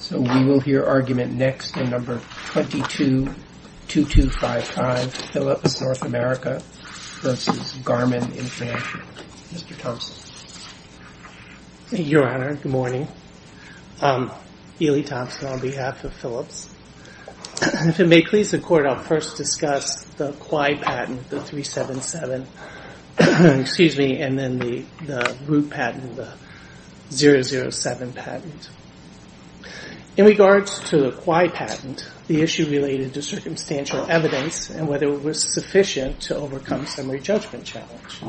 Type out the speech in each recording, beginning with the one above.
So we will hear argument next in number 222255, Philips North America versus Garmin International. Mr. Thompson. Your Honor, good morning. Elie Thompson on behalf of Philips. If it may please the Court, I'll first discuss the QI patent, the 377, and then the root patent, the 007 patent. In regards to the QI patent, the issue related to circumstantial evidence and whether it was sufficient to overcome summary judgment challenge.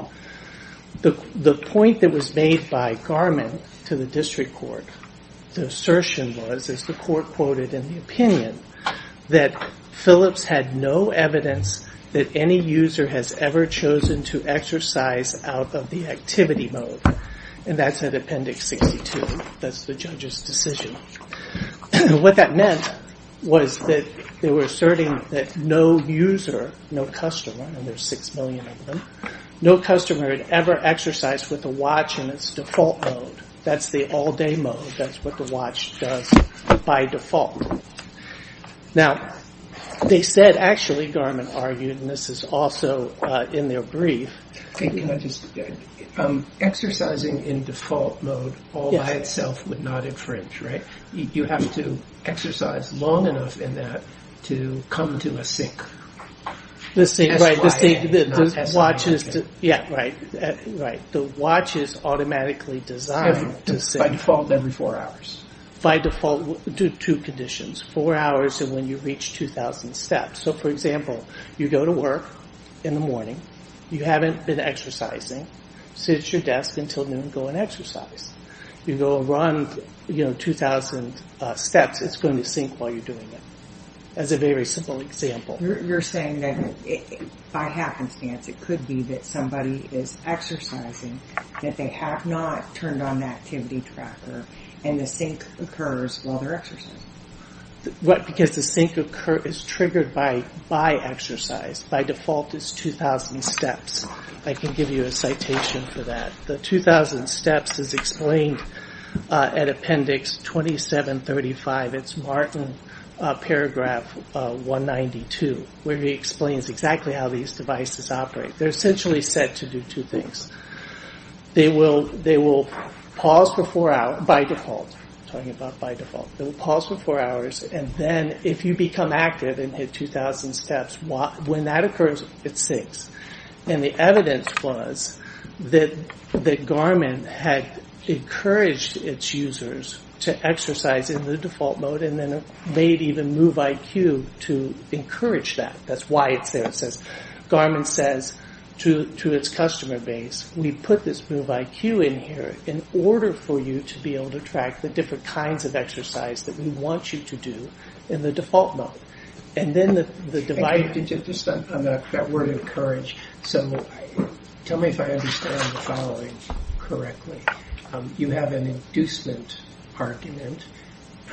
The point that was made by Garmin to the District Court, the assertion was, as the Court quoted in the opinion, that Philips had no evidence that any user has ever chosen to exercise out of the activity mode. And that's at Appendix 62. That's the judge's decision. What that meant was that they were asserting that no user, no customer, and there's six million of them, no customer had ever exercised with a watch in its default mode. That's the all-day mode. That's what the watch does by default. Now, they said, actually, Garmin argued, and this is also in their brief, exercising in default mode all by itself would not infringe, right? You have to exercise long enough in that to come to a sync. The watch is automatically designed to sync. By default, every four hours. By default, two conditions, four hours and when you reach 2,000 steps. So, for example, you go to work in the morning, you haven't been exercising, sit at your desk until noon and go and exercise. You go and run 2,000 steps, it's going to sync while you're doing it. That's a very simple example. You're saying that, by happenstance, it could be that somebody is exercising, that they have not turned on the activity tracker, and the sync occurs while they're exercising. Because the sync is triggered by exercise. By default, it's 2,000 steps. I can give you a citation for that. The 2,000 steps is explained at Appendix 2735. It's Martin Paragraph 192, where he explains exactly how these devices operate. They're essentially set to do two things. They will pause for four hours, by default. I'm talking about by default. They will pause for four hours and then, if you become active and hit 2,000 steps, when that occurs, it syncs. And the evidence was that Garmin had encouraged its users to exercise in the default mode and then made even MoveIQ to encourage that. That's why it's there. Because Garmin says to its customer base, we put this MoveIQ in here in order for you to be able to track the different kinds of exercise that we want you to do in the default mode. And then the device... Just on that word encourage, tell me if I understand the following correctly. You have an inducement argument,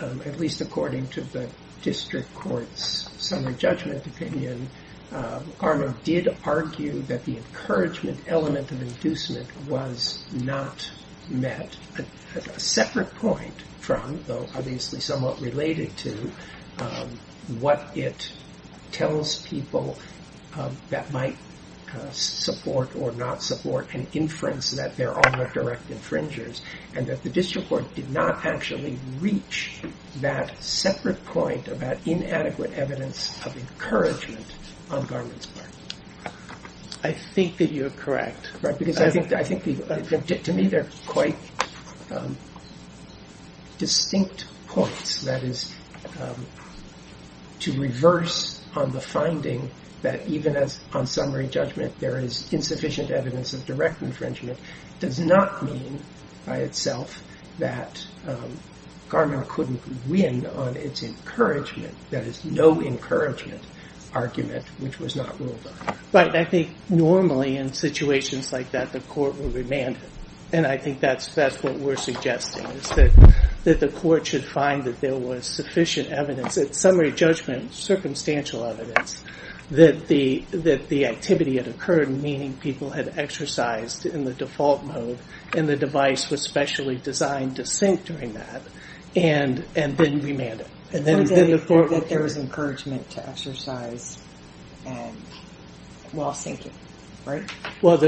at least according to the district court's summary judgment opinion, Garmin did argue that the encouragement element of inducement was not met at a separate point from, though obviously somewhat related to, what it tells people that might support or not support an inference that they're all direct infringers. And that the district court did not actually reach that separate point about inadequate evidence of encouragement on Garmin's part. I think that you're correct. Because I think, to me, they're quite distinct points. That is, to reverse on the finding that even on summary judgment there is insufficient evidence of direct infringement, does not mean by itself that Garmin couldn't win on its encouragement, that is, no encouragement argument, which was not ruled on. Right, and I think normally in situations like that, the court will remand. And I think that's what we're suggesting, is that the court should find that there was sufficient evidence, at summary judgment, circumstantial evidence, that the activity had occurred, meaning people had exercised in the default mode and the device was specially designed to sync during that, and then remand it. And that there was encouragement to exercise while syncing, right? Well,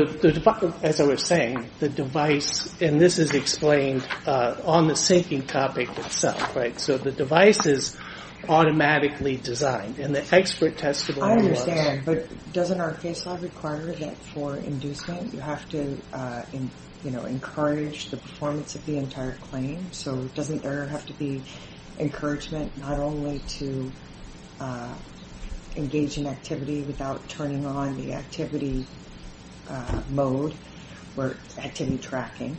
as I was saying, the device, and this is explained on the syncing topic itself. Right, so the device is automatically designed. I understand, but doesn't our case law require that for inducement, you have to encourage the performance of the entire claim? So doesn't there have to be encouragement not only to engage in activity without turning on the activity mode or activity tracking,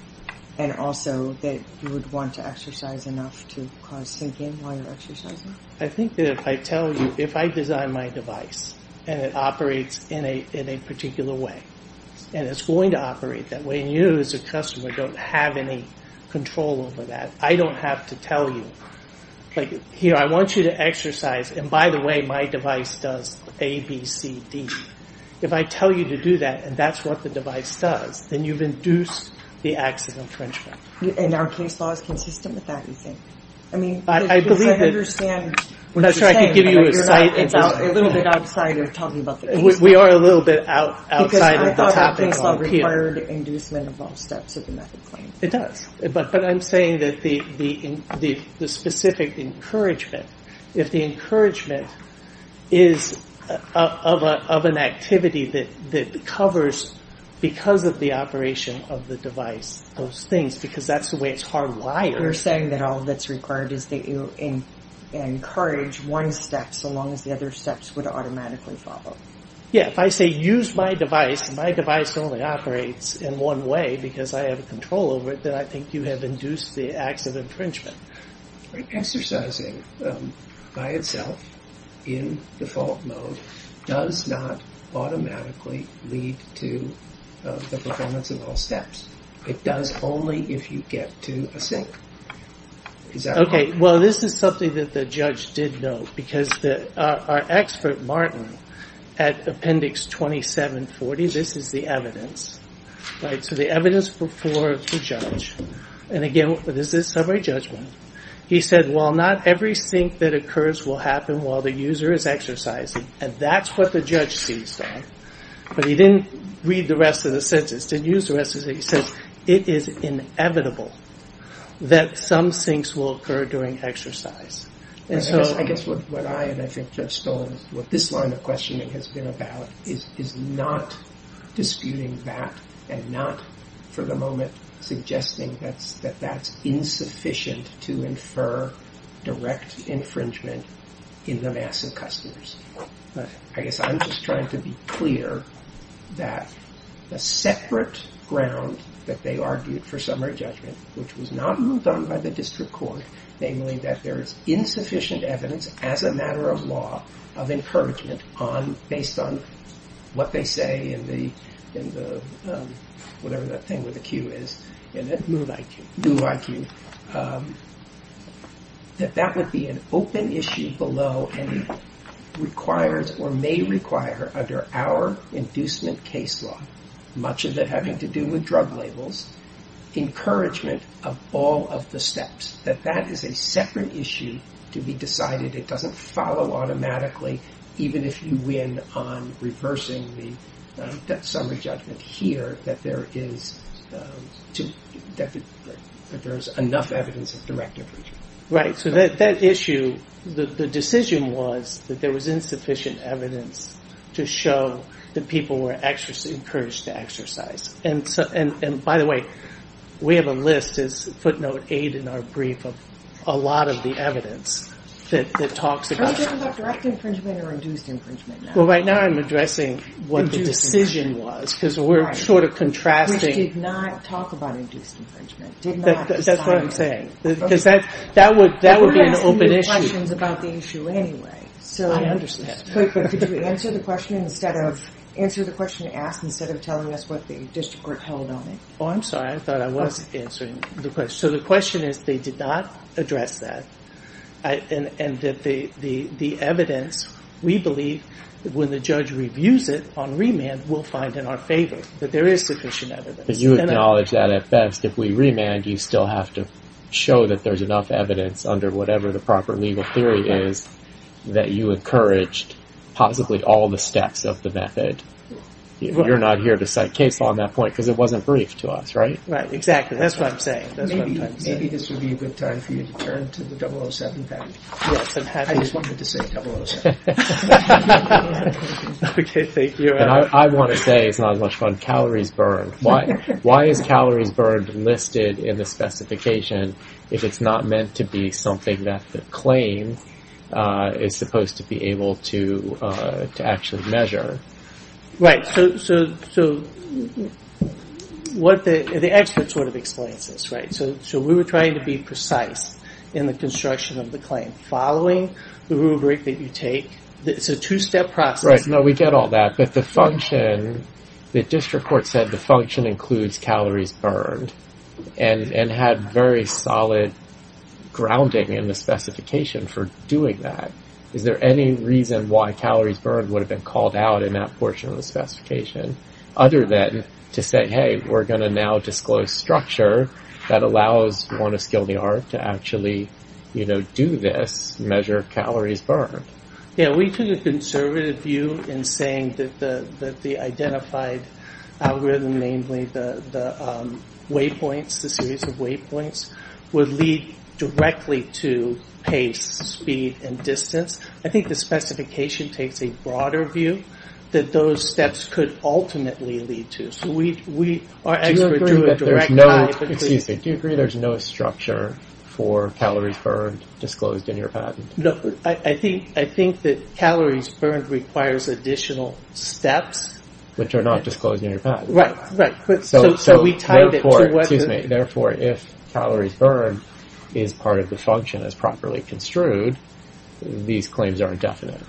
and also that you would want to exercise enough to cause syncing while you're exercising? I think that if I tell you, if I design my device and it operates in a particular way, and it's going to operate that way, and you as a customer don't have any control over that, I don't have to tell you, like, here, I want you to exercise, and by the way, my device does A, B, C, D. If I tell you to do that and that's what the device does, then you've induced the acts of infringement. And our case law is consistent with that, you think? I mean, because I understand what you're saying. That's right, I can give you a site. It's a little bit outside of talking about the case law. We are a little bit outside of the topic here. Because I thought our case law required inducement of all steps of the method claim. It does, but I'm saying that the specific encouragement, if the encouragement is of an activity that covers, because of the operation of the device, those things, because that's the way it's hardwired. You're saying that all that's required is to encourage one step so long as the other steps would automatically follow. Yeah, if I say, use my device, and my device only operates in one way because I have control over it, then I think you have induced the acts of infringement. Exercising by itself, in default mode, does not automatically lead to the performance of all steps. It does only if you get to a sink. Okay, well this is something that the judge did note. Because our expert, Martin, at appendix 2740, this is the evidence. So the evidence before the judge. And again, this is summary judgment. He said, well, not every sink that occurs will happen while the user is exercising. And that's what the judge sees. But he didn't read the rest of the sentence. He didn't use the rest of the sentence. He says, it is inevitable that some sinks will occur during exercise. I guess what I, and I think Judge Stone, what this line of questioning has been about is not disputing that and not, for the moment, suggesting that that's insufficient to infer direct infringement in the mass of customers. I guess I'm just trying to be clear that the separate ground that they argued for summary judgment, which was not moved on by the district court, namely that there is insufficient evidence as a matter of law of encouragement on, based on what they say in the, whatever that thing with the Q is, that that would be an open issue below and requires or may require under our inducement case law, much of it having to do with drug labels, encouragement of all of the steps. That that is a separate issue to be decided. It doesn't follow automatically, even if you win on reversing the summary judgment here, that there is enough evidence of direct infringement. Right, so that issue, the decision was that there was insufficient evidence to show that people were encouraged to exercise. And by the way, we have a list as footnote aid in our brief of a lot of the evidence that talks about. Are you talking about direct infringement or induced infringement now? Well, right now I'm addressing what the decision was, because we're sort of contrasting. Right, which did not talk about induced infringement. That's what I'm saying, because that would be an open issue. We're going to ask new questions about the issue anyway. I understand. Could you answer the question and instead of answer the question asked, instead of telling us what the district court held on it? I'm sorry, I thought I was answering the question. So the question is, they did not address that. And the evidence, we believe, when the judge reviews it on remand, we'll find in our favor that there is sufficient evidence. But you acknowledge that at best. If we remand, you still have to show that there's enough evidence under whatever the proper legal theory is that you encouraged possibly all the steps of the method. You're not here to cite case law on that point, because it wasn't briefed to us, right? Right, exactly. That's what I'm saying. Maybe this would be a good time for you to turn to the 007 package. I just wanted to say 007. Okay, thank you. And I want to say, it's not as much fun, calories burned. Why is calories burned listed in the specification, if it's not meant to be something that the claim is supposed to be able to actually measure? Right, so the expert sort of explains this, right? So we were trying to be precise in the construction of the claim, following the rubric that you take. It's a two-step process. Right, no, we get all that. But the function, the district court said the function includes calories burned and had very solid grounding in the specification for doing that. Is there any reason why calories burned would have been called out in that portion of the specification other than to say, hey, we're going to now disclose structure that allows one of skilled yard to actually do this, measure calories burned? Yeah, we took a conservative view in saying that the identified algorithm, namely the waypoints, the series of waypoints, would lead directly to pace, speed, and distance. I think the specification takes a broader view that those steps could ultimately lead to. Do you agree that there's no structure for calories burned disclosed in your patent? No, I think that calories burned requires additional steps. Which are not disclosed in your patent. Right, right. So we tied it to whether... Therefore, if calories burned is part of the function as properly construed, these claims are indefinite.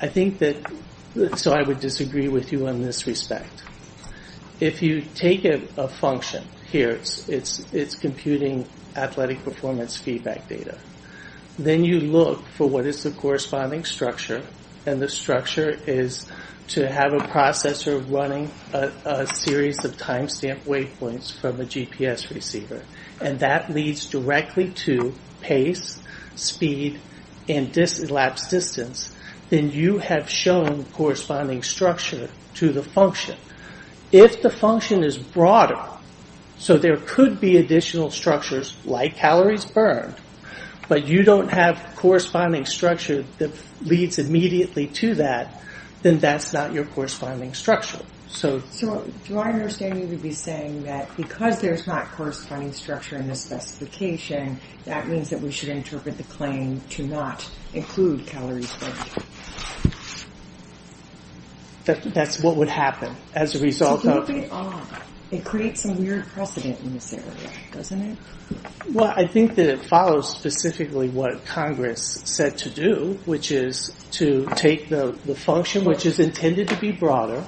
I think that, so I would disagree with you in this respect. If you take a function, here, it's computing athletic performance feedback data. Then you look for what is the corresponding structure, and the structure is to have a processor running a series of timestamp waypoints from a GPS receiver. And that leads directly to pace, speed, and elapsed distance. Then you have shown corresponding structure to the function. If the function is broader, so there could be additional structures like calories burned, but you don't have corresponding structure that leads immediately to that, then that's not your corresponding structure. So, to my understanding, you would be saying that because there's not corresponding structure in the specification, that means that we should interpret the claim to not include calories burned. That's what would happen as a result of... It's a little bit odd. It creates some weird precedent in this area, doesn't it? Well, I think that it follows specifically what Congress said to do, which is to take the function, which is intended to be broader,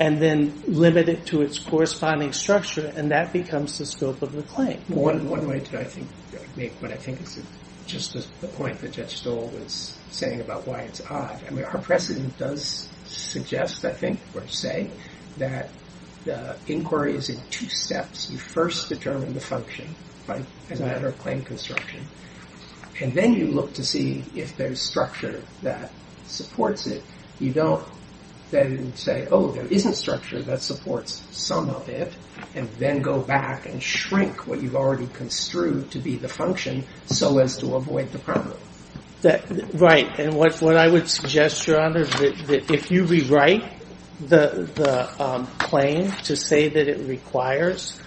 and then limit it to its corresponding structure, and that becomes the scope of the claim. One way to make what I think is just the point that Judge Stoll was saying about why it's odd. Our precedent does suggest, I think, or say, that the inquiry is in two steps. You first determine the function as a matter of claim construction, and then you look to see if there's structure that supports it. You don't then say, oh, there isn't structure that supports some of it, and then go back and shrink what you've already construed to be the function so as to avoid the problem. Right, and what I would suggest, Your Honor, is that if you rewrite the claim to say that it requires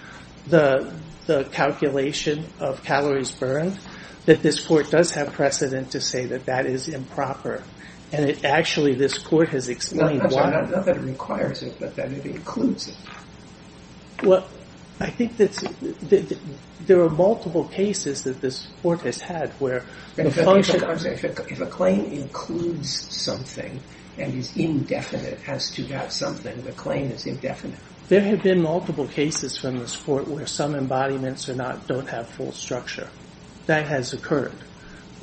the calculation of calories burned, that this Court does have precedent to say that that is improper, and actually this Court has explained why. Not that it requires it, but that it includes it. Well, I think that there are multiple cases that this Court has had where the function... If a claim includes something and is indefinite, has to have something, the claim is indefinite. There have been multiple cases from this Court where some embodiments don't have full structure. That has occurred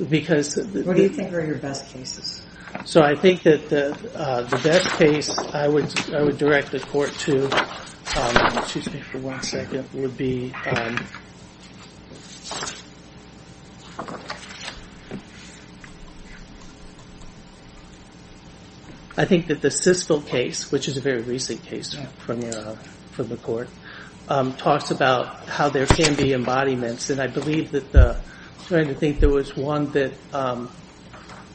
because... What do you think are your best cases? So I think that the best case I would direct the Court to, excuse me for one second, would be... I think that the Siskel case, which is a very recent case from the Court, talks about how there can be embodiments, and I believe that there was one that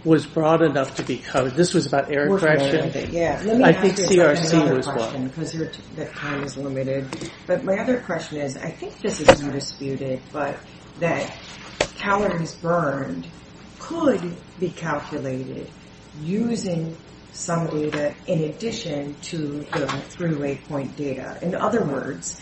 was broad enough to be covered. This was about aircraft shipping. I think CRC was one. But my other question is, I think this is undisputed, but that calories burned could be calculated using some data in addition to the three-way point data. In other words,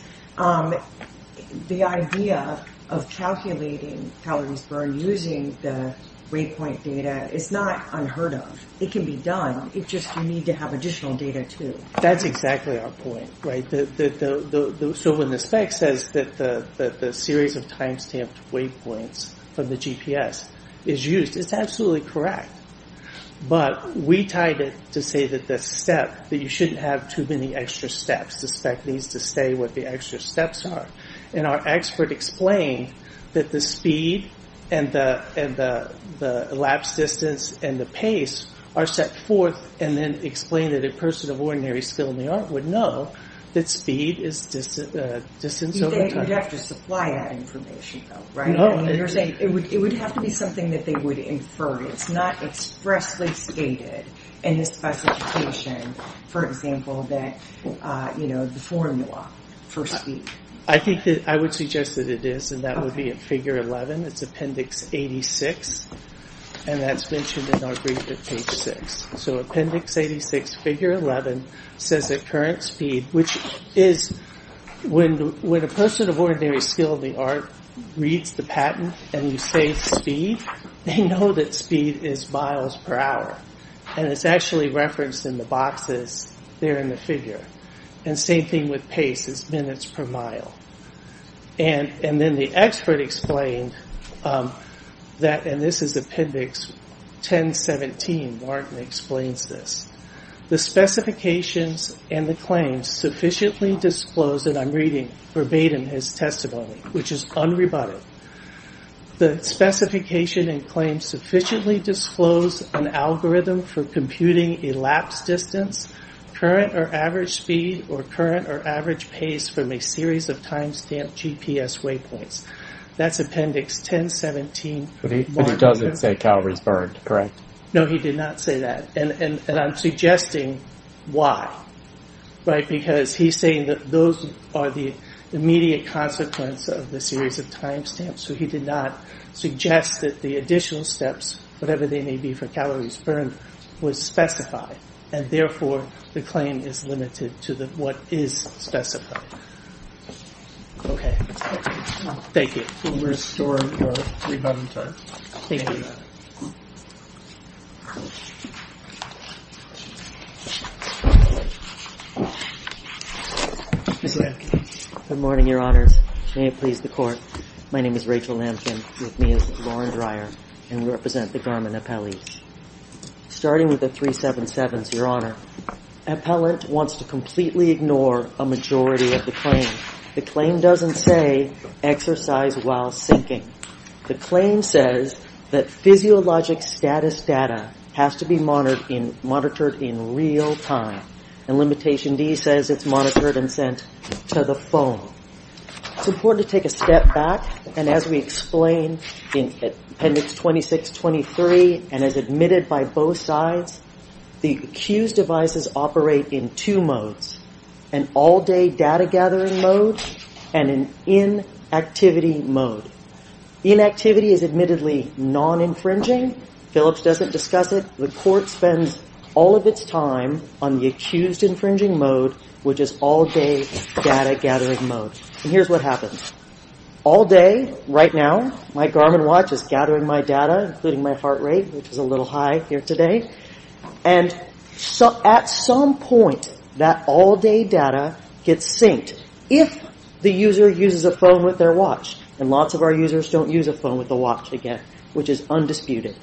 the idea of calculating calories burned using the waypoint data is not unheard of. It can be done. It's just you need to have additional data, too. That's exactly our point, right? So when the spec says that the series of time-stamped waypoints from the GPS is used, it's absolutely correct. But we tied it to say that you shouldn't have too many extra steps. The spec needs to say what the extra steps are. And our expert explained that the speed and the elapsed distance and the pace are set forth, and then explained that a person of ordinary skill in the art would know that speed is distance over time. You'd have to supply that information, though, right? No. It would have to be something that they would infer. It's not expressly stated in the specification, for example, the formula for speed. I would suggest that it is, and that would be in Figure 11. It's Appendix 86, and that's mentioned in our brief at Page 6. So Appendix 86, Figure 11 says that current speed, which is when a person of ordinary skill in the art reads the patent and you say speed, they know that speed is miles per hour. And it's actually referenced in the boxes there in the figure. And same thing with pace, it's minutes per mile. And then the expert explained that, and this is Appendix 1017, Martin explains this. The specifications and the claims sufficiently disclose that I'm reading verbatim his testimony, which is unrebutted. The specification and claims sufficiently disclose an algorithm for computing elapsed distance, current or average speed, or current or average pace from a series of time-stamped GPS waypoints. That's Appendix 1017. But he doesn't say calories burned, correct? No, he did not say that. And I'm suggesting why, right? Because he's saying that those are the immediate consequence of the series of time-stamps. So he did not suggest that the additional steps, whatever they may be for calories burned, was specified. And therefore, the claim is limited to what is specified. Okay. Thank you. We'll restore your rebuttal time. Thank you. Mr. Lamkin. Good morning, Your Honors. May it please the Court. My name is Rachel Lamkin, with me is Lauren Dreyer, and we represent the Garmin appellees. Starting with the 377s, Your Honor. Appellant wants to completely ignore a majority of the claim. The claim doesn't say exercise while sinking. The claim says that physiologic status data has to be monitored in real time. And Limitation D says it's monitored and sent to the phone. It's important to take a step back. And as we explained in Appendix 2623, and as admitted by both sides, the accused devices operate in two modes. An all-day data-gathering mode and an inactivity mode. Inactivity is admittedly non-infringing. Phillips doesn't discuss it. The Court spends all of its time on the accused-infringing mode, which is all-day data-gathering mode. And here's what happens. All day, right now, my Garmin watch is gathering my data, including my heart rate, which is a little high here today. And at some point, that all-day data gets synced. If the user uses a phone with their watch, and lots of our users don't use a phone with a watch, again, which is undisputed.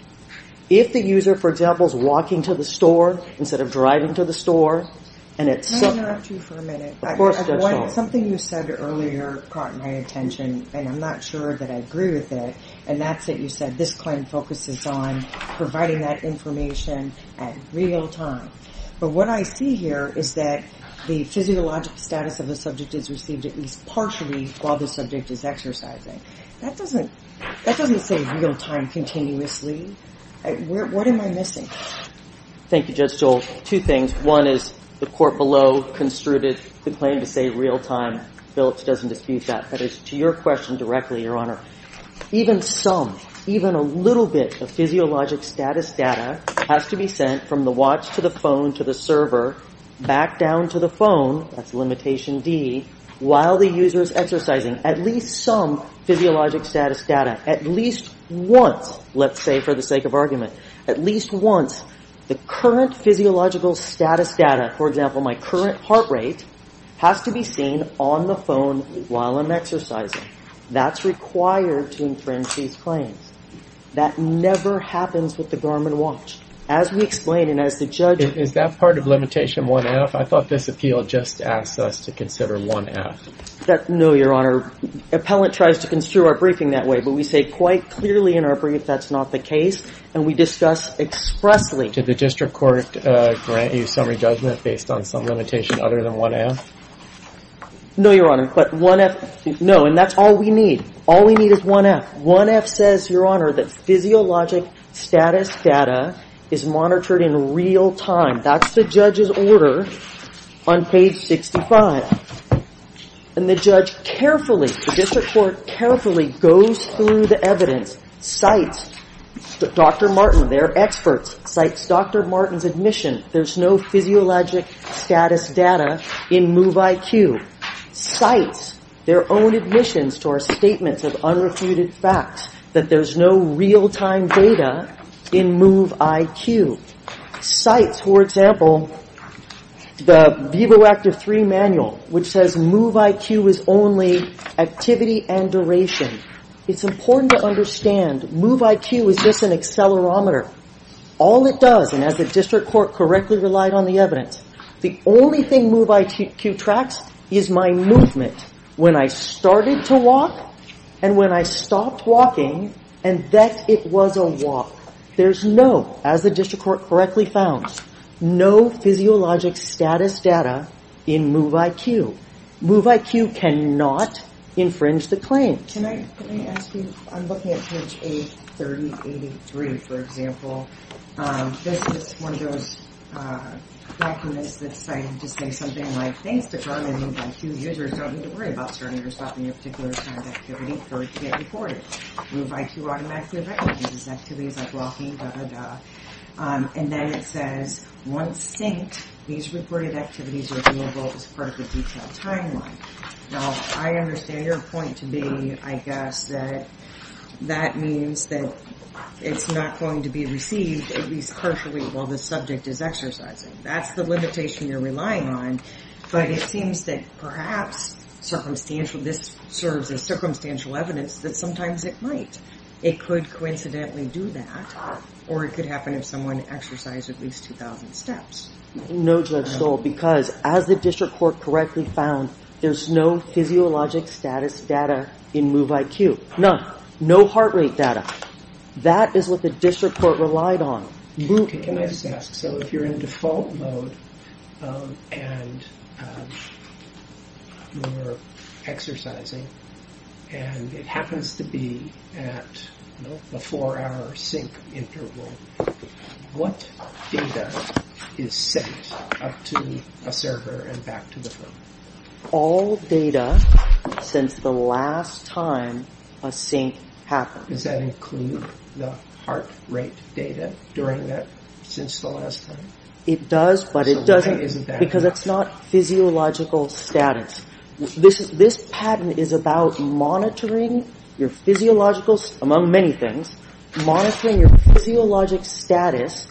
If the user, for example, is walking to the store, instead of driving to the store, and it's... Can I interrupt you for a minute? Of course, Judge Schultz. Something you said earlier caught my attention, and I'm not sure that I agree with it. And that's that you said this claim focuses on providing that information at real time. But what I see here is that the physiologic status of the subject is received at least partially while the subject is exercising. That doesn't say real time continuously. What am I missing? Thank you, Judge Schultz. Two things. One is the court below construed the claim to say real time. Phillips doesn't dispute that. But as to your question directly, Your Honor, even some, even a little bit of physiologic status data has to be sent from the watch to the phone to the server, back down to the phone, that's limitation D, while the user is exercising. At least some physiologic status data, at least once, let's say for the sake of argument, at least once, the current physiological status data, for example, my current heart rate, has to be seen on the phone while I'm exercising. That's required to infringe these claims. That never happens with the Garmin watch. As we explained, and as the judge... I thought this appeal just asked us to consider 1F. No, Your Honor. Appellant tries to construe our briefing that way, but we say quite clearly in our brief that's not the case. And we discuss expressly... Did the district court grant you summary judgment based on some limitation other than 1F? No, Your Honor. But 1F, no, and that's all we need. All we need is 1F. 1F says, Your Honor, that physiologic status data is monitored in real time. That's the judge's order on page 65. And the judge carefully, the district court carefully goes through the evidence, cites Dr. Martin, their experts, cites Dr. Martin's admission. There's no physiologic status data in MoveIQ. Cites their own admissions to our statements of unrefuted facts, that there's no real-time data in MoveIQ. Cites, for example, the VIVO Act of 3 manual, which says MoveIQ is only activity and duration. It's important to understand, MoveIQ is just an accelerometer. All it does, and as the district court correctly relied on the evidence, the only thing MoveIQ tracks is my movement. When I started to walk, and when I stopped walking, and that it was a walk. There's no, as the district court correctly found, no physiologic status data in MoveIQ. MoveIQ cannot infringe the claim. Can I ask you, I'm looking at page 83083, for example. This is one of those documents that's cited to say something like, Thanks to Carmen, MoveIQ users don't need to worry about starting or stopping a particular kind of activity for it to get reported. MoveIQ automatically recognizes activities like walking, da, da, da. And then it says, Once synced, these reported activities are viewable as part of the detailed timeline. Now, I understand your point to be, I guess, that that means that it's not going to be received, at least partially, while the subject is exercising. That's the limitation you're relying on, but it seems that perhaps circumstantial, this serves as circumstantial evidence that sometimes it might. It could coincidentally do that, or it could happen if someone exercised at least 2,000 steps. No, Judge Stoll, because as the district court correctly found, there's no physiologic status data in MoveIQ. None. No heart rate data. That is what the district court relied on. Can I just ask, so if you're in default mode and you're exercising, and it happens to be at a four-hour sync interval, what data is sent up to a server and back to the phone? All data since the last time a sync happened. Does that include the heart rate data during that, since the last time? It does, but it doesn't, because it's not physiological status. This patent is about monitoring your physiological, among many things, monitoring your physiologic status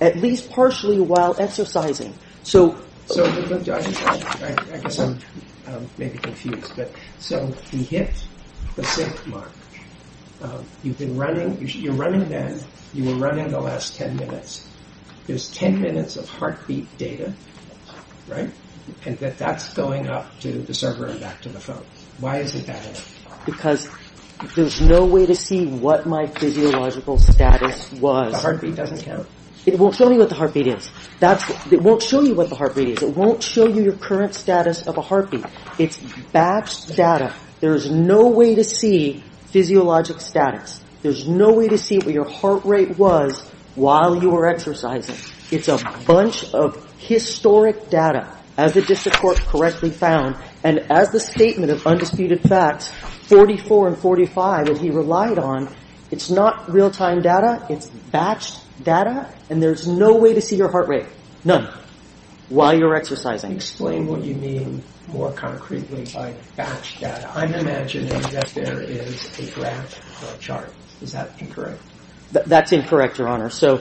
at least partially while exercising. I guess I'm maybe confused. So you hit the sync mark. You're running then. You were running the last 10 minutes. There's 10 minutes of heartbeat data, and that's going up to the server and back to the phone. Why isn't that it? Because there's no way to see what my physiological status was. The heartbeat doesn't count. It won't show me what the heartbeat is. It won't show you what the heartbeat is. It won't show you your current status of a heartbeat. It's batched data. There's no way to see physiologic status. There's no way to see what your heart rate was while you were exercising. It's a bunch of historic data, as the district court correctly found, and as the statement of undisputed facts 44 and 45 that he relied on, it's not real-time data. It's batched data, and there's no way to see your heart rate, none, while you're exercising. Explain what you mean more concretely by batched data. I'm imagining that there is a graph or a chart. Is that incorrect? That's incorrect, Your Honor. So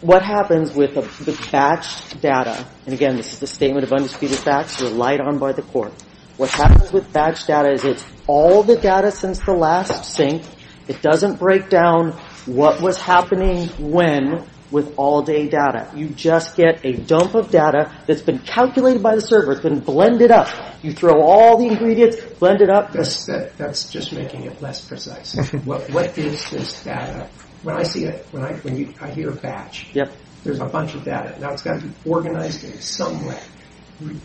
what happens with the batched data, and again, this is the statement of undisputed facts relied on by the court. What happens with batched data is it's all the data since the last sync. It doesn't break down what was happening when with all-day data. You just get a dump of data that's been calculated by the server. It's been blended up. You throw all the ingredients, blend it up. That's just making it less precise. What is this data? When I see it, when I hear batch, there's a bunch of data. Now, it's got to be organized in some way.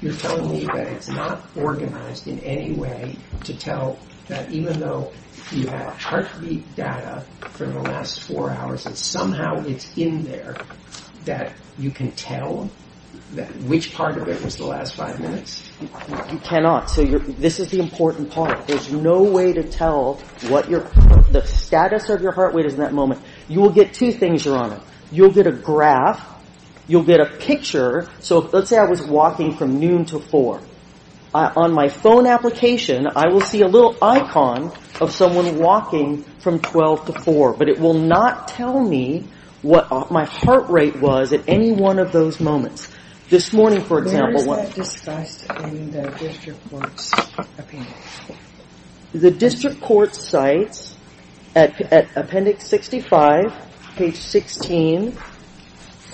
You're telling me that it's not organized in any way to tell that even though you have heartbeat data for the last four hours, that somehow it's in there that you can tell which part of it was the last five minutes? You cannot. So this is the important part. There's no way to tell what the status of your heart rate is in that moment. You will get two things, Your Honor. You'll get a graph. You'll get a picture. So let's say I was walking from noon to 4. On my phone application, I will see a little icon of someone walking from 12 to 4, but it will not tell me what my heart rate was at any one of those moments. This morning, for example, what? Where is that discussed in the district court's appendix? The district court cites at appendix 65, page 16,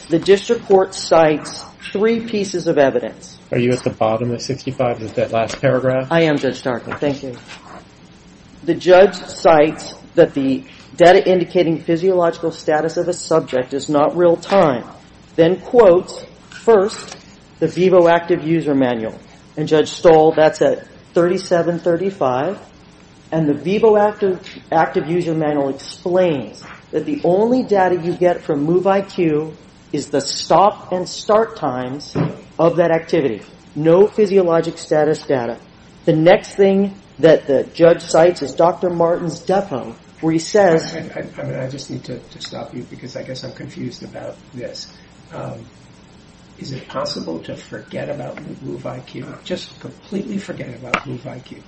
the district court cites three pieces of evidence. Are you at the bottom of 65, that last paragraph? I am, Judge Starker. Thank you. The judge cites that the data indicating physiological status of a subject is not real-time, then quotes first the VEBO Active User Manual, and Judge Stoll, that's at 3735, and the VEBO Active User Manual explains that the only data you get from MoveIQ is the stop and start times of that activity. No physiologic status data. The next thing that the judge cites is Dr. Martin's depo where he says— I just need to stop you because I guess I'm confused about this. Is it possible to forget about MoveIQ, just completely forget about MoveIQ?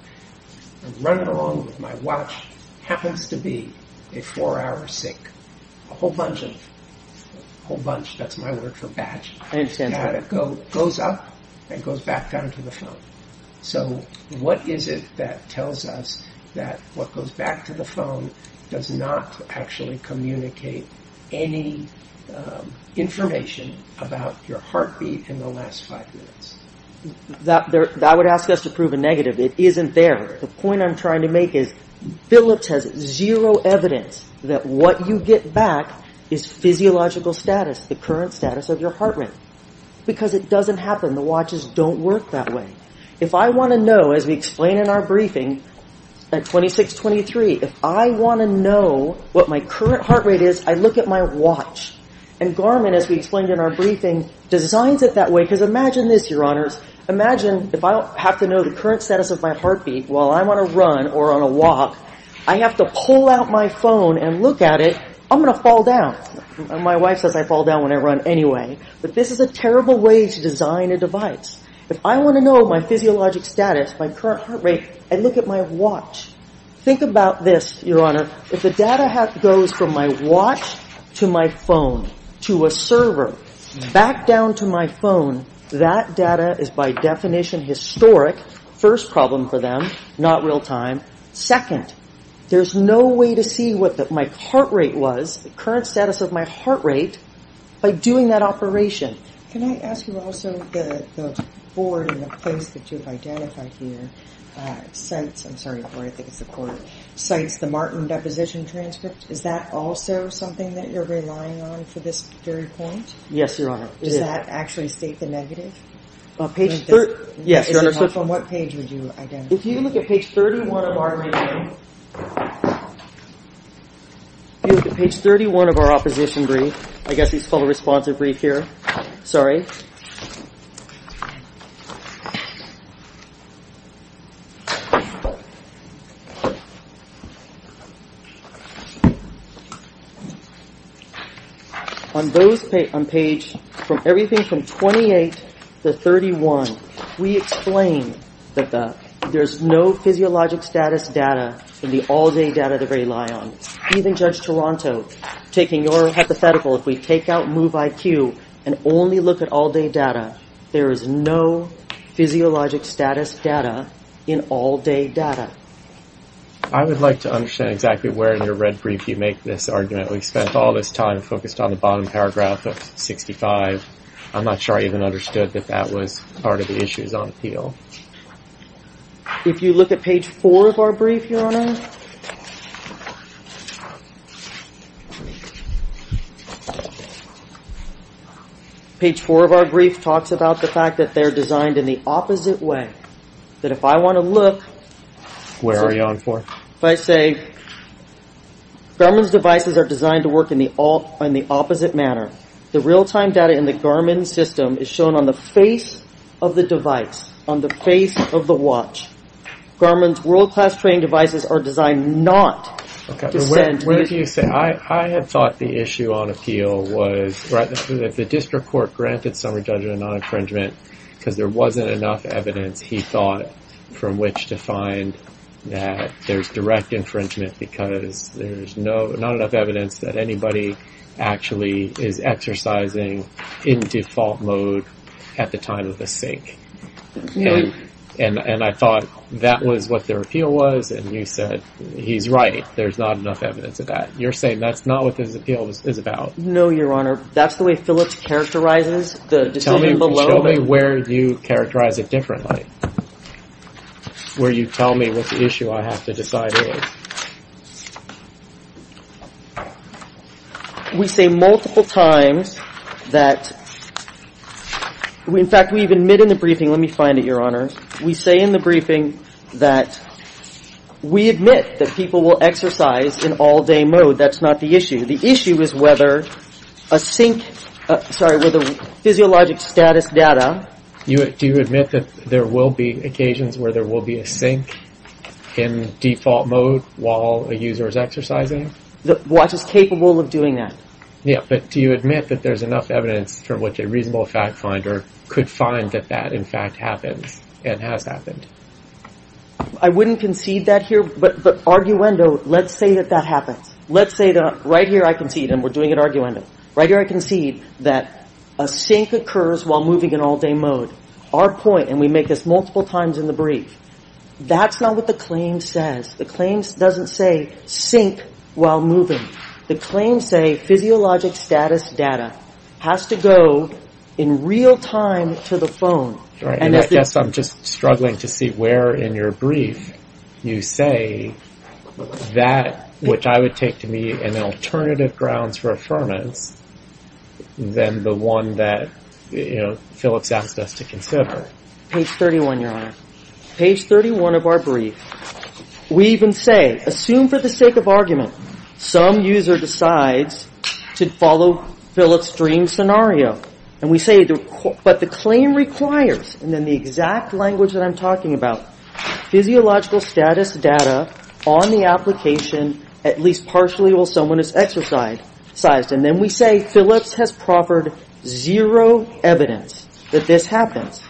I'm running along with my watch. It happens to be a four-hour sync. A whole bunch of—a whole bunch, that's my word for batch. I understand. It goes up and goes back down to the phone. So what is it that tells us that what goes back to the phone does not actually communicate any information about your heartbeat in the last five minutes? That would ask us to prove a negative. It isn't there. The point I'm trying to make is Billups has zero evidence that what you get back is physiological status, the current status of your heart rate, because it doesn't happen. The watches don't work that way. If I want to know, as we explain in our briefing at 2623, if I want to know what my current heart rate is, I look at my watch. And Garmin, as we explained in our briefing, designs it that way. Because imagine this, Your Honors. Imagine if I have to know the current status of my heartbeat while I'm on a run or on a walk. I have to pull out my phone and look at it. I'm going to fall down. My wife says I fall down when I run anyway. But this is a terrible way to design a device. If I want to know my physiologic status, my current heart rate, I look at my watch. Think about this, Your Honor. If the data goes from my watch to my phone to a server back down to my phone, that data is by definition historic. First problem for them, not real time. Second, there's no way to see what my heart rate was, the current status of my heart rate, by doing that operation. Can I ask you also the board and the place that you've identified here cites the Martin deposition transcript. Is that also something that you're relying on for this jury point? Yes, Your Honor. Does that actually state the negative? Yes, Your Honor. From what page would you identify it? If you look at page 31 of our briefing, if you look at page 31 of our opposition brief, I guess it's called a responsive brief here, sorry. On those, on page, everything from 28 to 31, we explain that there's no physiologic status data in the all-day data that we rely on. Even Judge Toronto, taking your hypothetical, if we take out MOVE-IQ and only look at all-day data, there is no physiologic status data in all-day data. I would like to understand exactly where in your red brief you make this argument. We've spent all this time focused on the bottom paragraph of 65. I'm not sure I even understood that that was part of the issues on appeal. If you look at page 4 of our brief, Your Honor, page 4 of our brief talks about the fact that they're designed in the opposite way. That if I want to look… Where are you on for? If I say Garmin's devices are designed to work in the opposite manner, the real-time data in the Garmin system is shown on the face of the device, on the face of the watch. Garmin's world-class training devices are designed not to send… What do you say? I had thought the issue on appeal was that the district court granted Summer Judge a non-infringement because there wasn't enough evidence, he thought, from which to find that there's direct infringement because there's not enough evidence that anybody actually is exercising in default mode at the time of the sink. And I thought that was what their appeal was. And you said he's right. There's not enough evidence of that. You're saying that's not what this appeal is about. No, Your Honor. That's the way Phillips characterizes the decision below. Show me where you characterize it differently, where you tell me what the issue I have to decide is. We say multiple times that… In fact, we've admitted in the briefing, let me find it, Your Honor. We say in the briefing that we admit that people will exercise in all-day mode. That's not the issue. The issue is whether a sink… Sorry, whether physiologic status data… Do you admit that there will be occasions where there will be a sink in default mode while a user is exercising? Watch is capable of doing that. Yeah, but do you admit that there's enough evidence from which a reasonable fact finder could find that that, in fact, happens and has happened? I wouldn't concede that here, but arguendo, let's say that that happens. Let's say that right here I concede, and we're doing it arguendo, right here I concede that a sink occurs while moving in all-day mode. Our point, and we make this multiple times in the brief, that's not what the claim says. The claim doesn't say sink while moving. The claim say physiologic status data has to go in real time to the phone. Right, and I guess I'm just struggling to see where in your brief you say that, which I would take to be an alternative grounds for affirmance than the one that, you know, Phillips asked us to consider. Page 31, Your Honor. Page 31 of our brief. We even say, assume for the sake of argument, some user decides to follow Phillips' dream scenario. And we say, but the claim requires, and in the exact language that I'm talking about, physiological status data on the application at least partially while someone is exercised. And then we say Phillips has proffered zero evidence that this happens.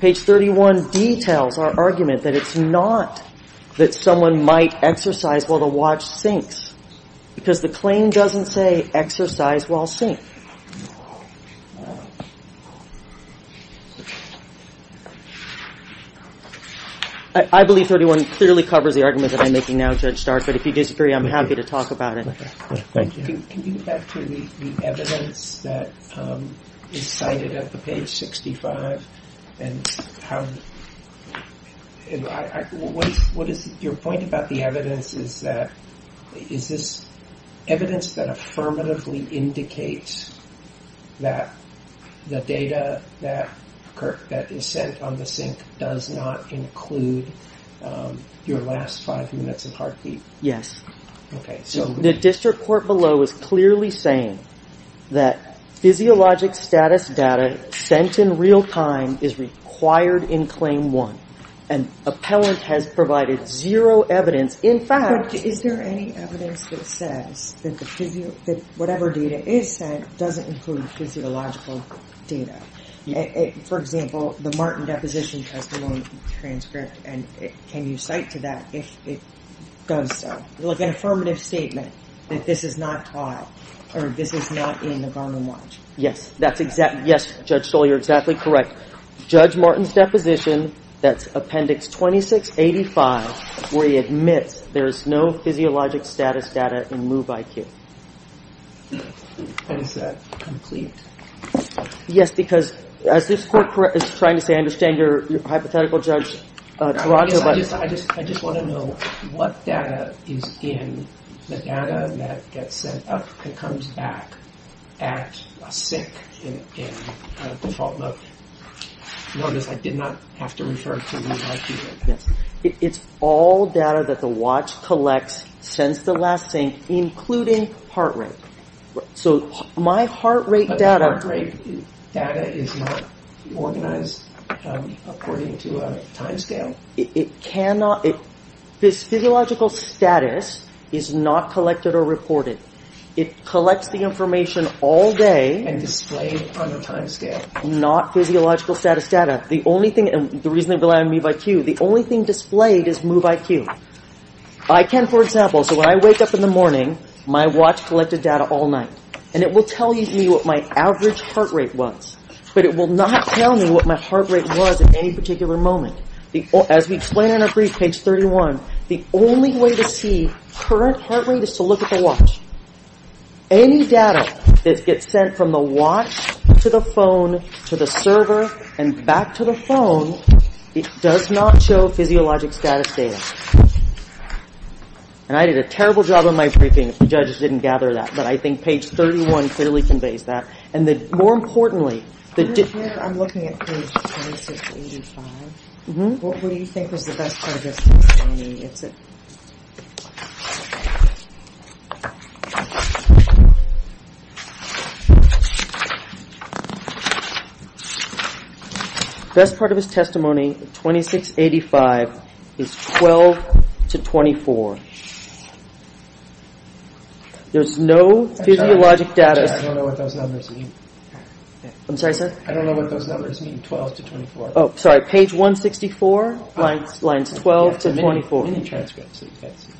Page 31 details our argument that it's not that someone might exercise while the watch sinks, because the claim doesn't say exercise while sink. I believe 31 clearly covers the argument that I'm making now, Judge Stark, but if you disagree, I'm happy to talk about it. Thank you. Can you get back to the evidence that is cited at the page 65? Your point about the evidence is that, is this evidence that affirmatively indicates that the data that is sent on the sink does not include your last five minutes of heartbeat? Yes. Okay, so the district court below is clearly saying that physiologic status data sent in real time is required in Claim 1. And appellant has provided zero evidence. In fact, is there any evidence that says that whatever data is sent doesn't include physiological data? For example, the Martin deposition testimony transcript, and can you cite to that if it does so? Like an affirmative statement that this is not trial, or this is not in the Garland watch. Yes, that's exactly, yes, Judge Stoll, you're exactly correct. Judge Martin's deposition, that's appendix 2685, where he admits there is no physiologic status data in MOVE-IQ. And is that complete? Yes, because as this court is trying to say, I understand your hypothetical, Judge Tarago, but I just want to know what data is in the data that gets sent up and comes back at a sink in default mode? Notice I did not have to refer to MOVE-IQ. It's all data that the watch collects since the last sink, including heart rate. So my heart rate data But the heart rate data is not organized according to a time scale. It cannot, this physiological status is not collected or reported. It collects the information all day. And displayed on a time scale. Not physiological status data. The only thing, the reason they've allowed MOVE-IQ, the only thing displayed is MOVE-IQ. I can, for example, so when I wake up in the morning, my watch collected data all night. And it will tell me what my average heart rate was. But it will not tell me what my heart rate was at any particular moment. As we explain in our brief, page 31, the only way to see current heart rate is to look at the watch. Any data that gets sent from the watch to the phone, to the server, and back to the phone, it does not show physiologic status data. And I did a terrible job on my briefing if the judges didn't gather that. But I think page 31 clearly conveys that. I'm looking at page 2685. What do you think was the best part of his testimony? The best part of his testimony, 2685, is 12 to 24. There's no physiologic data. I don't know what those numbers mean. I'm sorry, sir? I don't know what those numbers mean, 12 to 24. Oh, sorry, page 164, lines 12 to 24. The mini-transcripts that you guys see.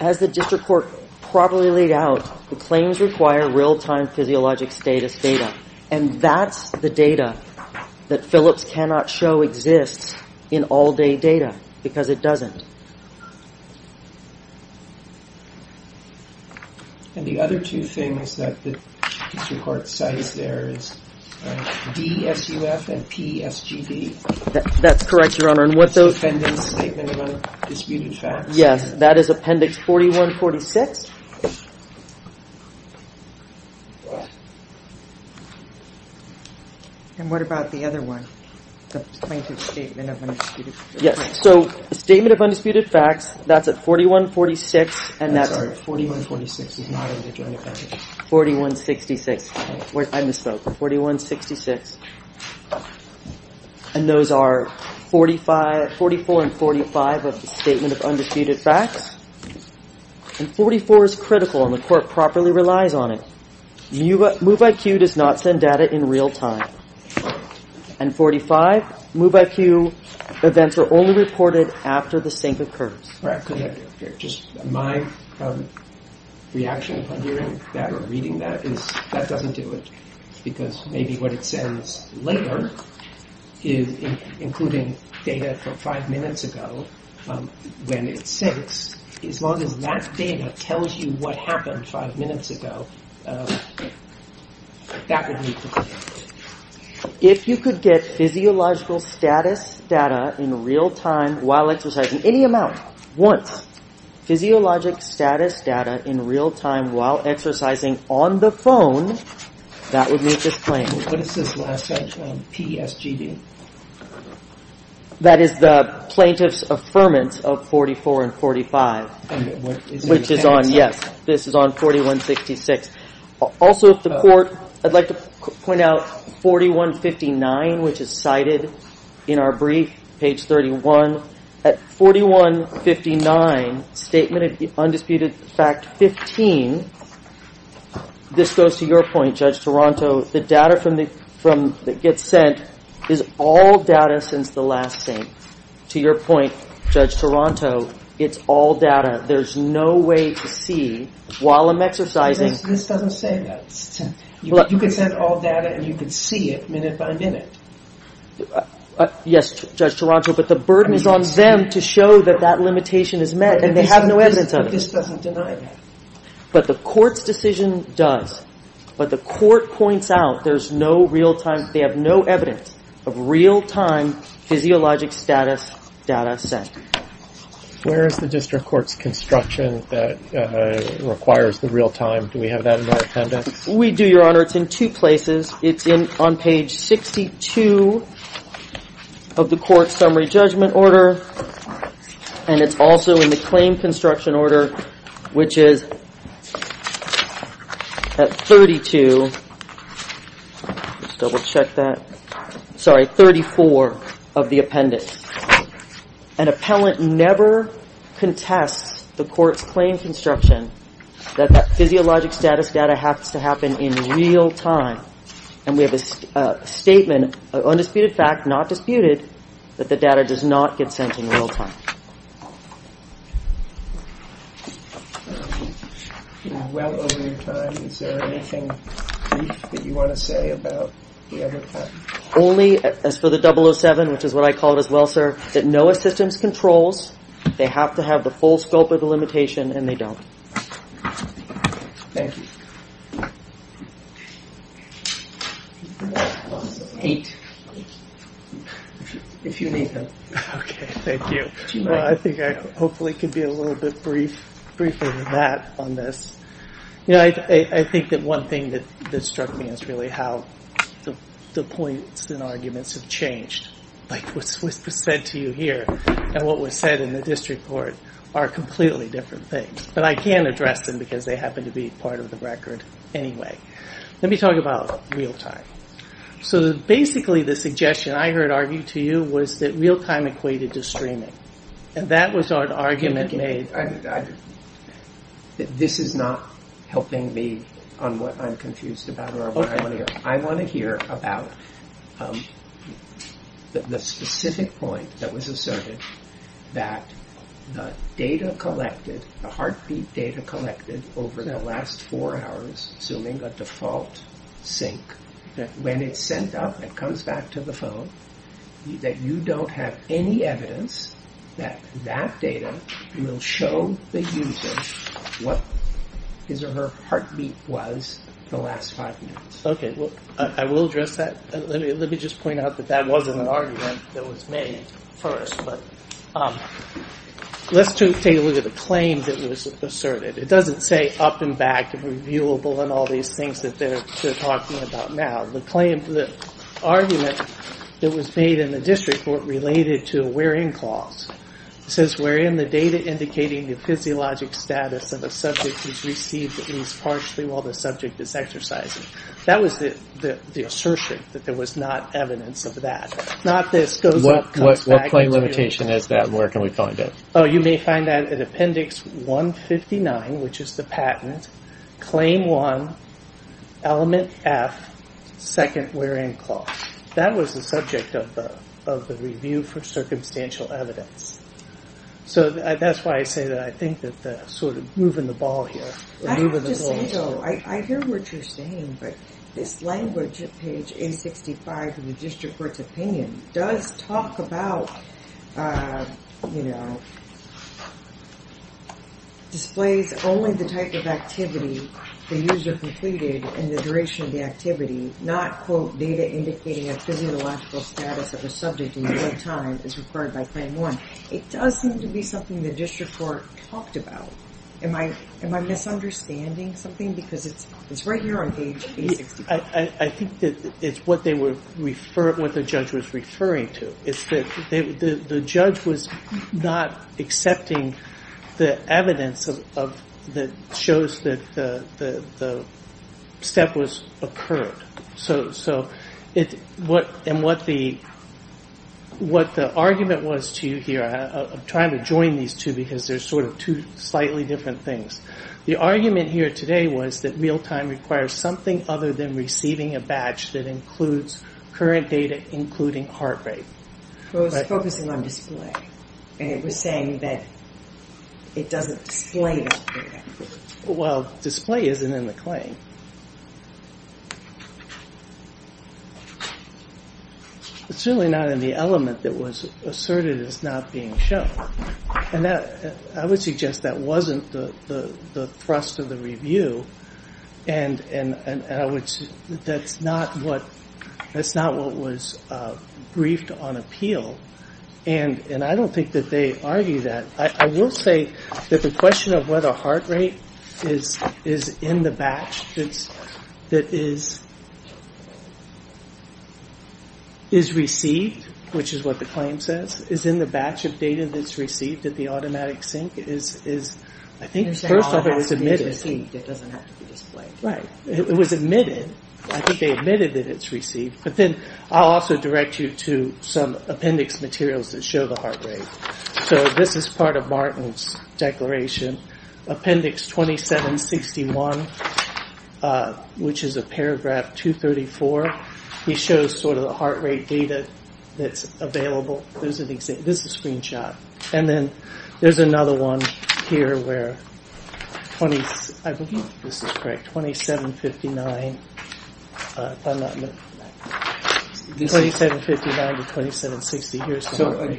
As the district court probably laid out, the claims require real-time physiologic status data. And that's the data that Phillips cannot show exists in all-day data because it doesn't. And the other two things that the district court cites there is DSUF and PSGD. That's correct, Your Honor. That's the appendix statement of undisputed facts. Yes, that is appendix 4146. And what about the other one? The plaintiff's statement of undisputed facts. Yes, so statement of undisputed facts, that's at 4146. I'm sorry, 4146 is not in the joint appendix. 4166. I misspoke. 4166. And those are 44 and 45 of the statement of undisputed facts. And 44 is critical, and the court properly relies on it. MOVE-IQ does not send data in real time. And 45, MOVE-IQ events are only reported after the sink occurs. Correct. Just my reaction upon hearing that or reading that is that doesn't do it because maybe what it sends later is including data from five minutes ago when it sinks. As long as that data tells you what happened five minutes ago, that would be sufficient. If you could get physiological status data in real time while exercising, any amount, once, physiologic status data in real time while exercising on the phone, that would meet this claim. What is this last section on PESGD? That is the plaintiff's affirmance of 44 and 45, which is on, yes, this is on 4166. Also, if the court, I'd like to point out 4159, which is cited in our brief, page 31. At 4159, Statement of the Undisputed Fact 15, this goes to your point, Judge Toronto, the data that gets sent is all data since the last sink. To your point, Judge Toronto, it's all data. There's no way to see while I'm exercising. This doesn't say that. You can send all data and you can see it minute by minute. Yes, Judge Toronto, but the burden is on them to show that that limitation is met and they have no evidence of it. This doesn't deny that. But the court's decision does. But the court points out there's no real time, they have no evidence of real time physiologic status data sent. Where is the district court's construction that requires the real time? Do we have that in our appendix? We do, Your Honor. It's in two places. It's on page 62 of the court's summary judgment order and it's also in the claim construction order, which is at 32. Let's double check that. Sorry, 34 of the appendix. An appellant never contests the court's claim construction that that physiologic status data has to happen in real time. And we have a statement, undisputed fact, not disputed, that the data does not get sent in real time. Well over your time, is there anything that you want to say about the other time? Only as for the 007, which is what I call it as well, sir, that NOAA systems controls, they have to have the full scope of the limitation, and they don't. Thank you. If you need them. Okay, thank you. I think I hopefully could be a little bit briefer than that on this. I think that one thing that struck me is really how the points and arguments have changed. Like what was said to you here and what was said in the district court are completely different things. But I can't address them because they happen to be part of the record anyway. Let me talk about real time. So basically the suggestion I heard argued to you was that real time equated to streaming. And that was an argument made. This is not helping me on what I'm confused about or what I want to hear. I want to hear about the specific point that was asserted that the data collected, the heartbeat data collected over that last four hours, assuming a default sync, that when it's sent up and comes back to the phone, that you don't have any evidence that that data will show the user what his or her heartbeat was the last five minutes. Okay, I will address that. Let me just point out that that wasn't an argument that was made first. But let's take a look at the claim that was asserted. It doesn't say up and back and reviewable and all these things that they're talking about now. The argument that was made in the district court related to a where in clause. It says wherein the data indicating the physiologic status of a subject is received at least partially while the subject is exercising. That was the assertion that there was not evidence of that. Not this. What claim limitation is that and where can we find it? You may find that at appendix 159, which is the patent, claim one, element F, second where in clause. That was the subject of the review for circumstantial evidence. So that's why I say that I think that sort of moving the ball here. I hear what you're saying, but this language at page 865 in the district court's opinion does talk about, you know, displays only the type of activity the user completed in the duration of the activity, not quote data indicating a physiological status of a subject and what time is required by claim one. It does seem to be something the district court talked about. Am I misunderstanding something? Because it's right here on page 865. I think it's what the judge was referring to. It's that the judge was not accepting the evidence that shows that the step was occurred. So what the argument was to you here, I'm trying to join these two because they're sort of two slightly different things. The argument here today was that real time requires something other than receiving a badge that includes current data including heart rate. It was focusing on display and it was saying that it doesn't display it. Well, display isn't in the claim. It's really not in the element that was asserted as not being shown. And I would suggest that wasn't the thrust of the review and that's not what was briefed on appeal. And I don't think that they argue that. I will say that the question of whether heart rate is in the batch that is received, which is what the claim says, is in the batch of data that's received at the automatic sync. I think first of all it was admitted. It doesn't have to be displayed. It was admitted. I think they admitted that it's received. But then I'll also direct you to some appendix materials that show the heart rate. So this is part of Martin's declaration. Appendix 2761, which is a paragraph 234. He shows sort of the heart rate data that's available. This is a screenshot. And then there's another one here where 2759 to 2760. So you started with 2761.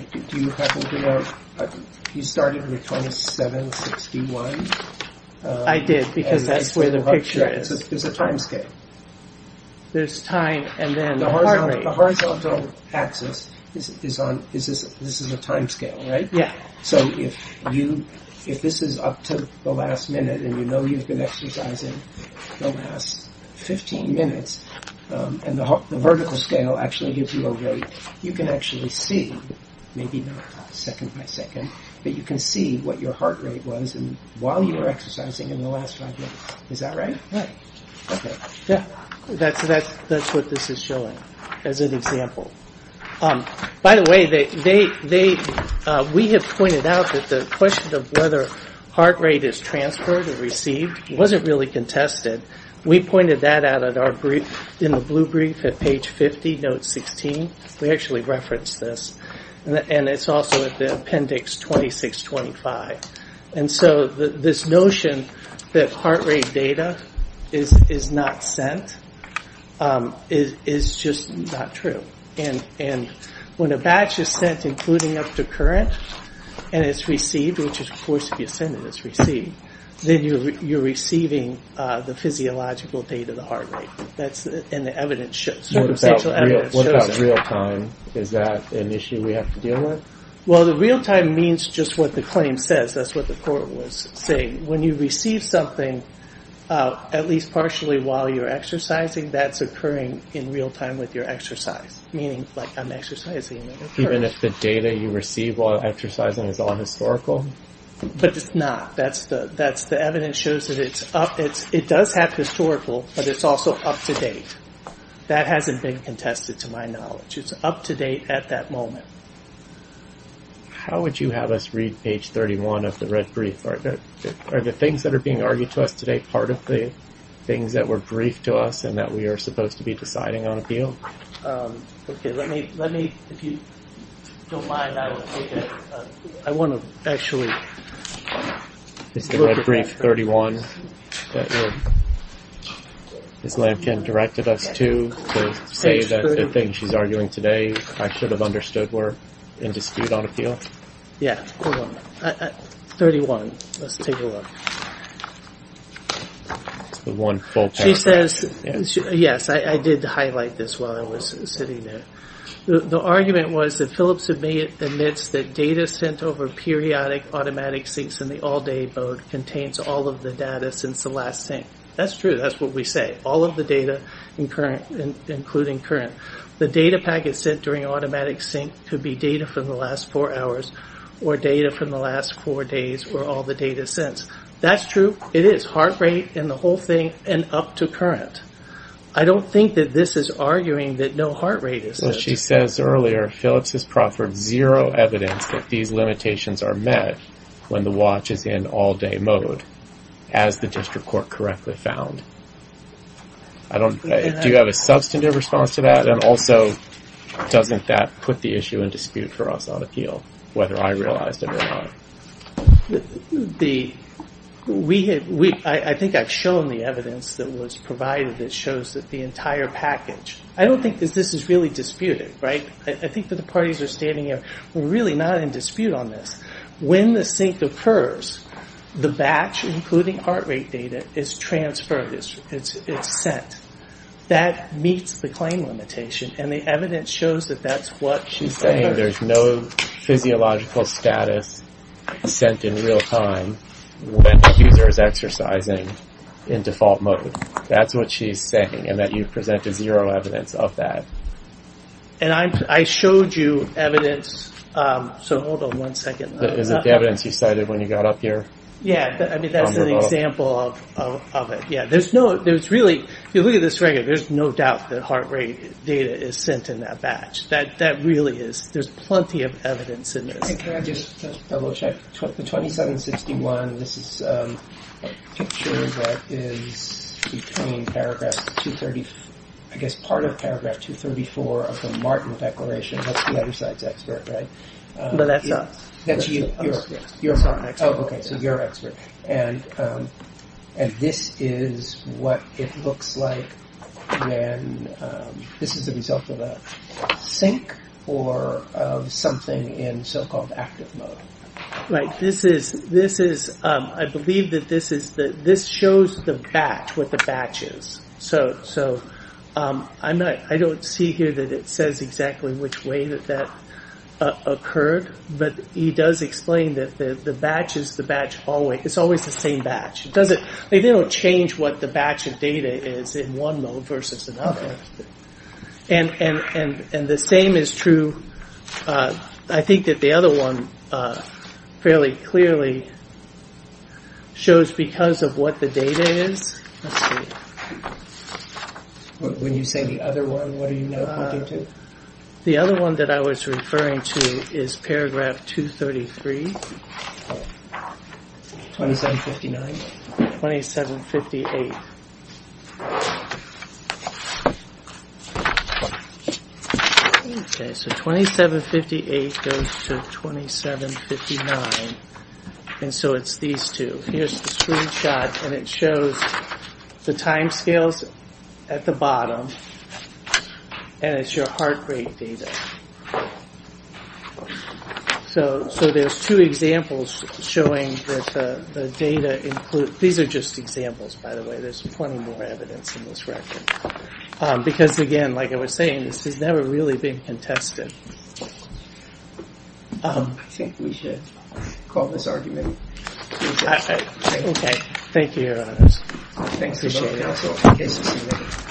I did because that's where the picture is. There's a time scale. There's time and then the heart rate. The horizontal axis, this is a time scale, right? Yeah. So if this is up to the last minute and you know you've been exercising the last 15 minutes, and the vertical scale actually gives you a rate, you can actually see, maybe not second by second, but you can see what your heart rate was while you were exercising in the last five minutes. Is that right? Right. Okay. That's what this is showing as an example. By the way, we have pointed out that the question of whether heart rate is transferred or received wasn't really contested. We pointed that out in the blue brief at page 50, note 16. We actually referenced this. And it's also at the appendix 2625. And so this notion that heart rate data is not sent is just not true. And when a batch is sent, including up to current, and it's received, which is supposed to be sent and it's received, then you're receiving the physiological date of the heart rate. And the circumstantial evidence shows that. What about real time? Is that an issue we have to deal with? Well, the real time means just what the claim says. That's what the court was saying. When you receive something, at least partially while you're exercising, that's occurring in real time with your exercise, meaning like I'm exercising. Even if the data you receive while exercising is all historical? But it's not. The evidence shows that it does have historical, but it's also up to date. That hasn't been contested to my knowledge. It's up to date at that moment. How would you have us read page 31 of the red brief? Are the things that are being argued to us today part of the things that were briefed to us and that we are supposed to be deciding on appeal? Okay. Let me, if you don't mind, I want to actually look at that. Is the red brief 31 that Ms. Lampkin directed us to, to say that the things she's arguing today I should have understood were in dispute on appeal? Yeah. Hold on. 31. Let's take a look. The one full paragraph. She says, yes, I did highlight this while I was sitting there. The argument was that Phillips admits that data sent over periodic automatic syncs in the all-day mode contains all of the data since the last sync. That's true. That's what we say. All of the data, including current. The data packet sent during automatic sync could be data from the last four hours or data from the last four days or all the data since. That's true. It is heart rate and the whole thing and up to current. I don't think that this is arguing that no heart rate is. She says earlier, Phillips has proffered zero evidence that these limitations are met when the watch is in all-day mode, as the district court correctly found. Do you have a substantive response to that? And also, doesn't that put the issue in dispute for us on appeal, whether I realized it or not? I think I've shown the evidence that was provided that shows that the entire package. I don't think that this is really disputed. I think that the parties that are standing here are really not in dispute on this. When the sync occurs, the batch, including heart rate data, is transferred. It's sent. That meets the claim limitation, and the evidence shows that that's what she's saying. There's no physiological status sent in real time when the user is exercising in default mode. That's what she's saying, and that you've presented zero evidence of that. And I showed you evidence. So hold on one second. Is it the evidence you cited when you got up here? Yeah. I mean, that's an example of it. Yeah. If you look at this right here, there's no doubt that heart rate data is sent in that batch. That really is. There's plenty of evidence in this. Can I just double check? The 2761, this is a picture that is between paragraph 230, I guess part of paragraph 234 of the Martin Declaration. That's the other side's expert, right? No, that's not. That's you. You're a Martin expert. Oh, okay. So you're an expert. And this is what it looks like when this is a result of a sync or of something in so-called active mode. Right. This is, I believe that this shows the batch, what the batch is. So I don't see here that it says exactly which way that that occurred. But he does explain that the batch is the batch always. It's always the same batch. They don't change what the batch of data is in one mode versus another. And the same is true, I think, that the other one fairly clearly shows because of what the data is. Let's see. When you say the other one, what are you referring to? The other one that I was referring to is paragraph 233. 2759. 2758. Okay, so 2758 goes to 2759. And so it's these two. So here's the screenshot, and it shows the timescales at the bottom. And it's your heart rate data. So there's two examples showing that the data includes. These are just examples, by the way. There's plenty more evidence in this record. Because, again, like I was saying, this has never really been contested. I think we should call this argument. Okay. Thank you. Thanks. Appreciate it.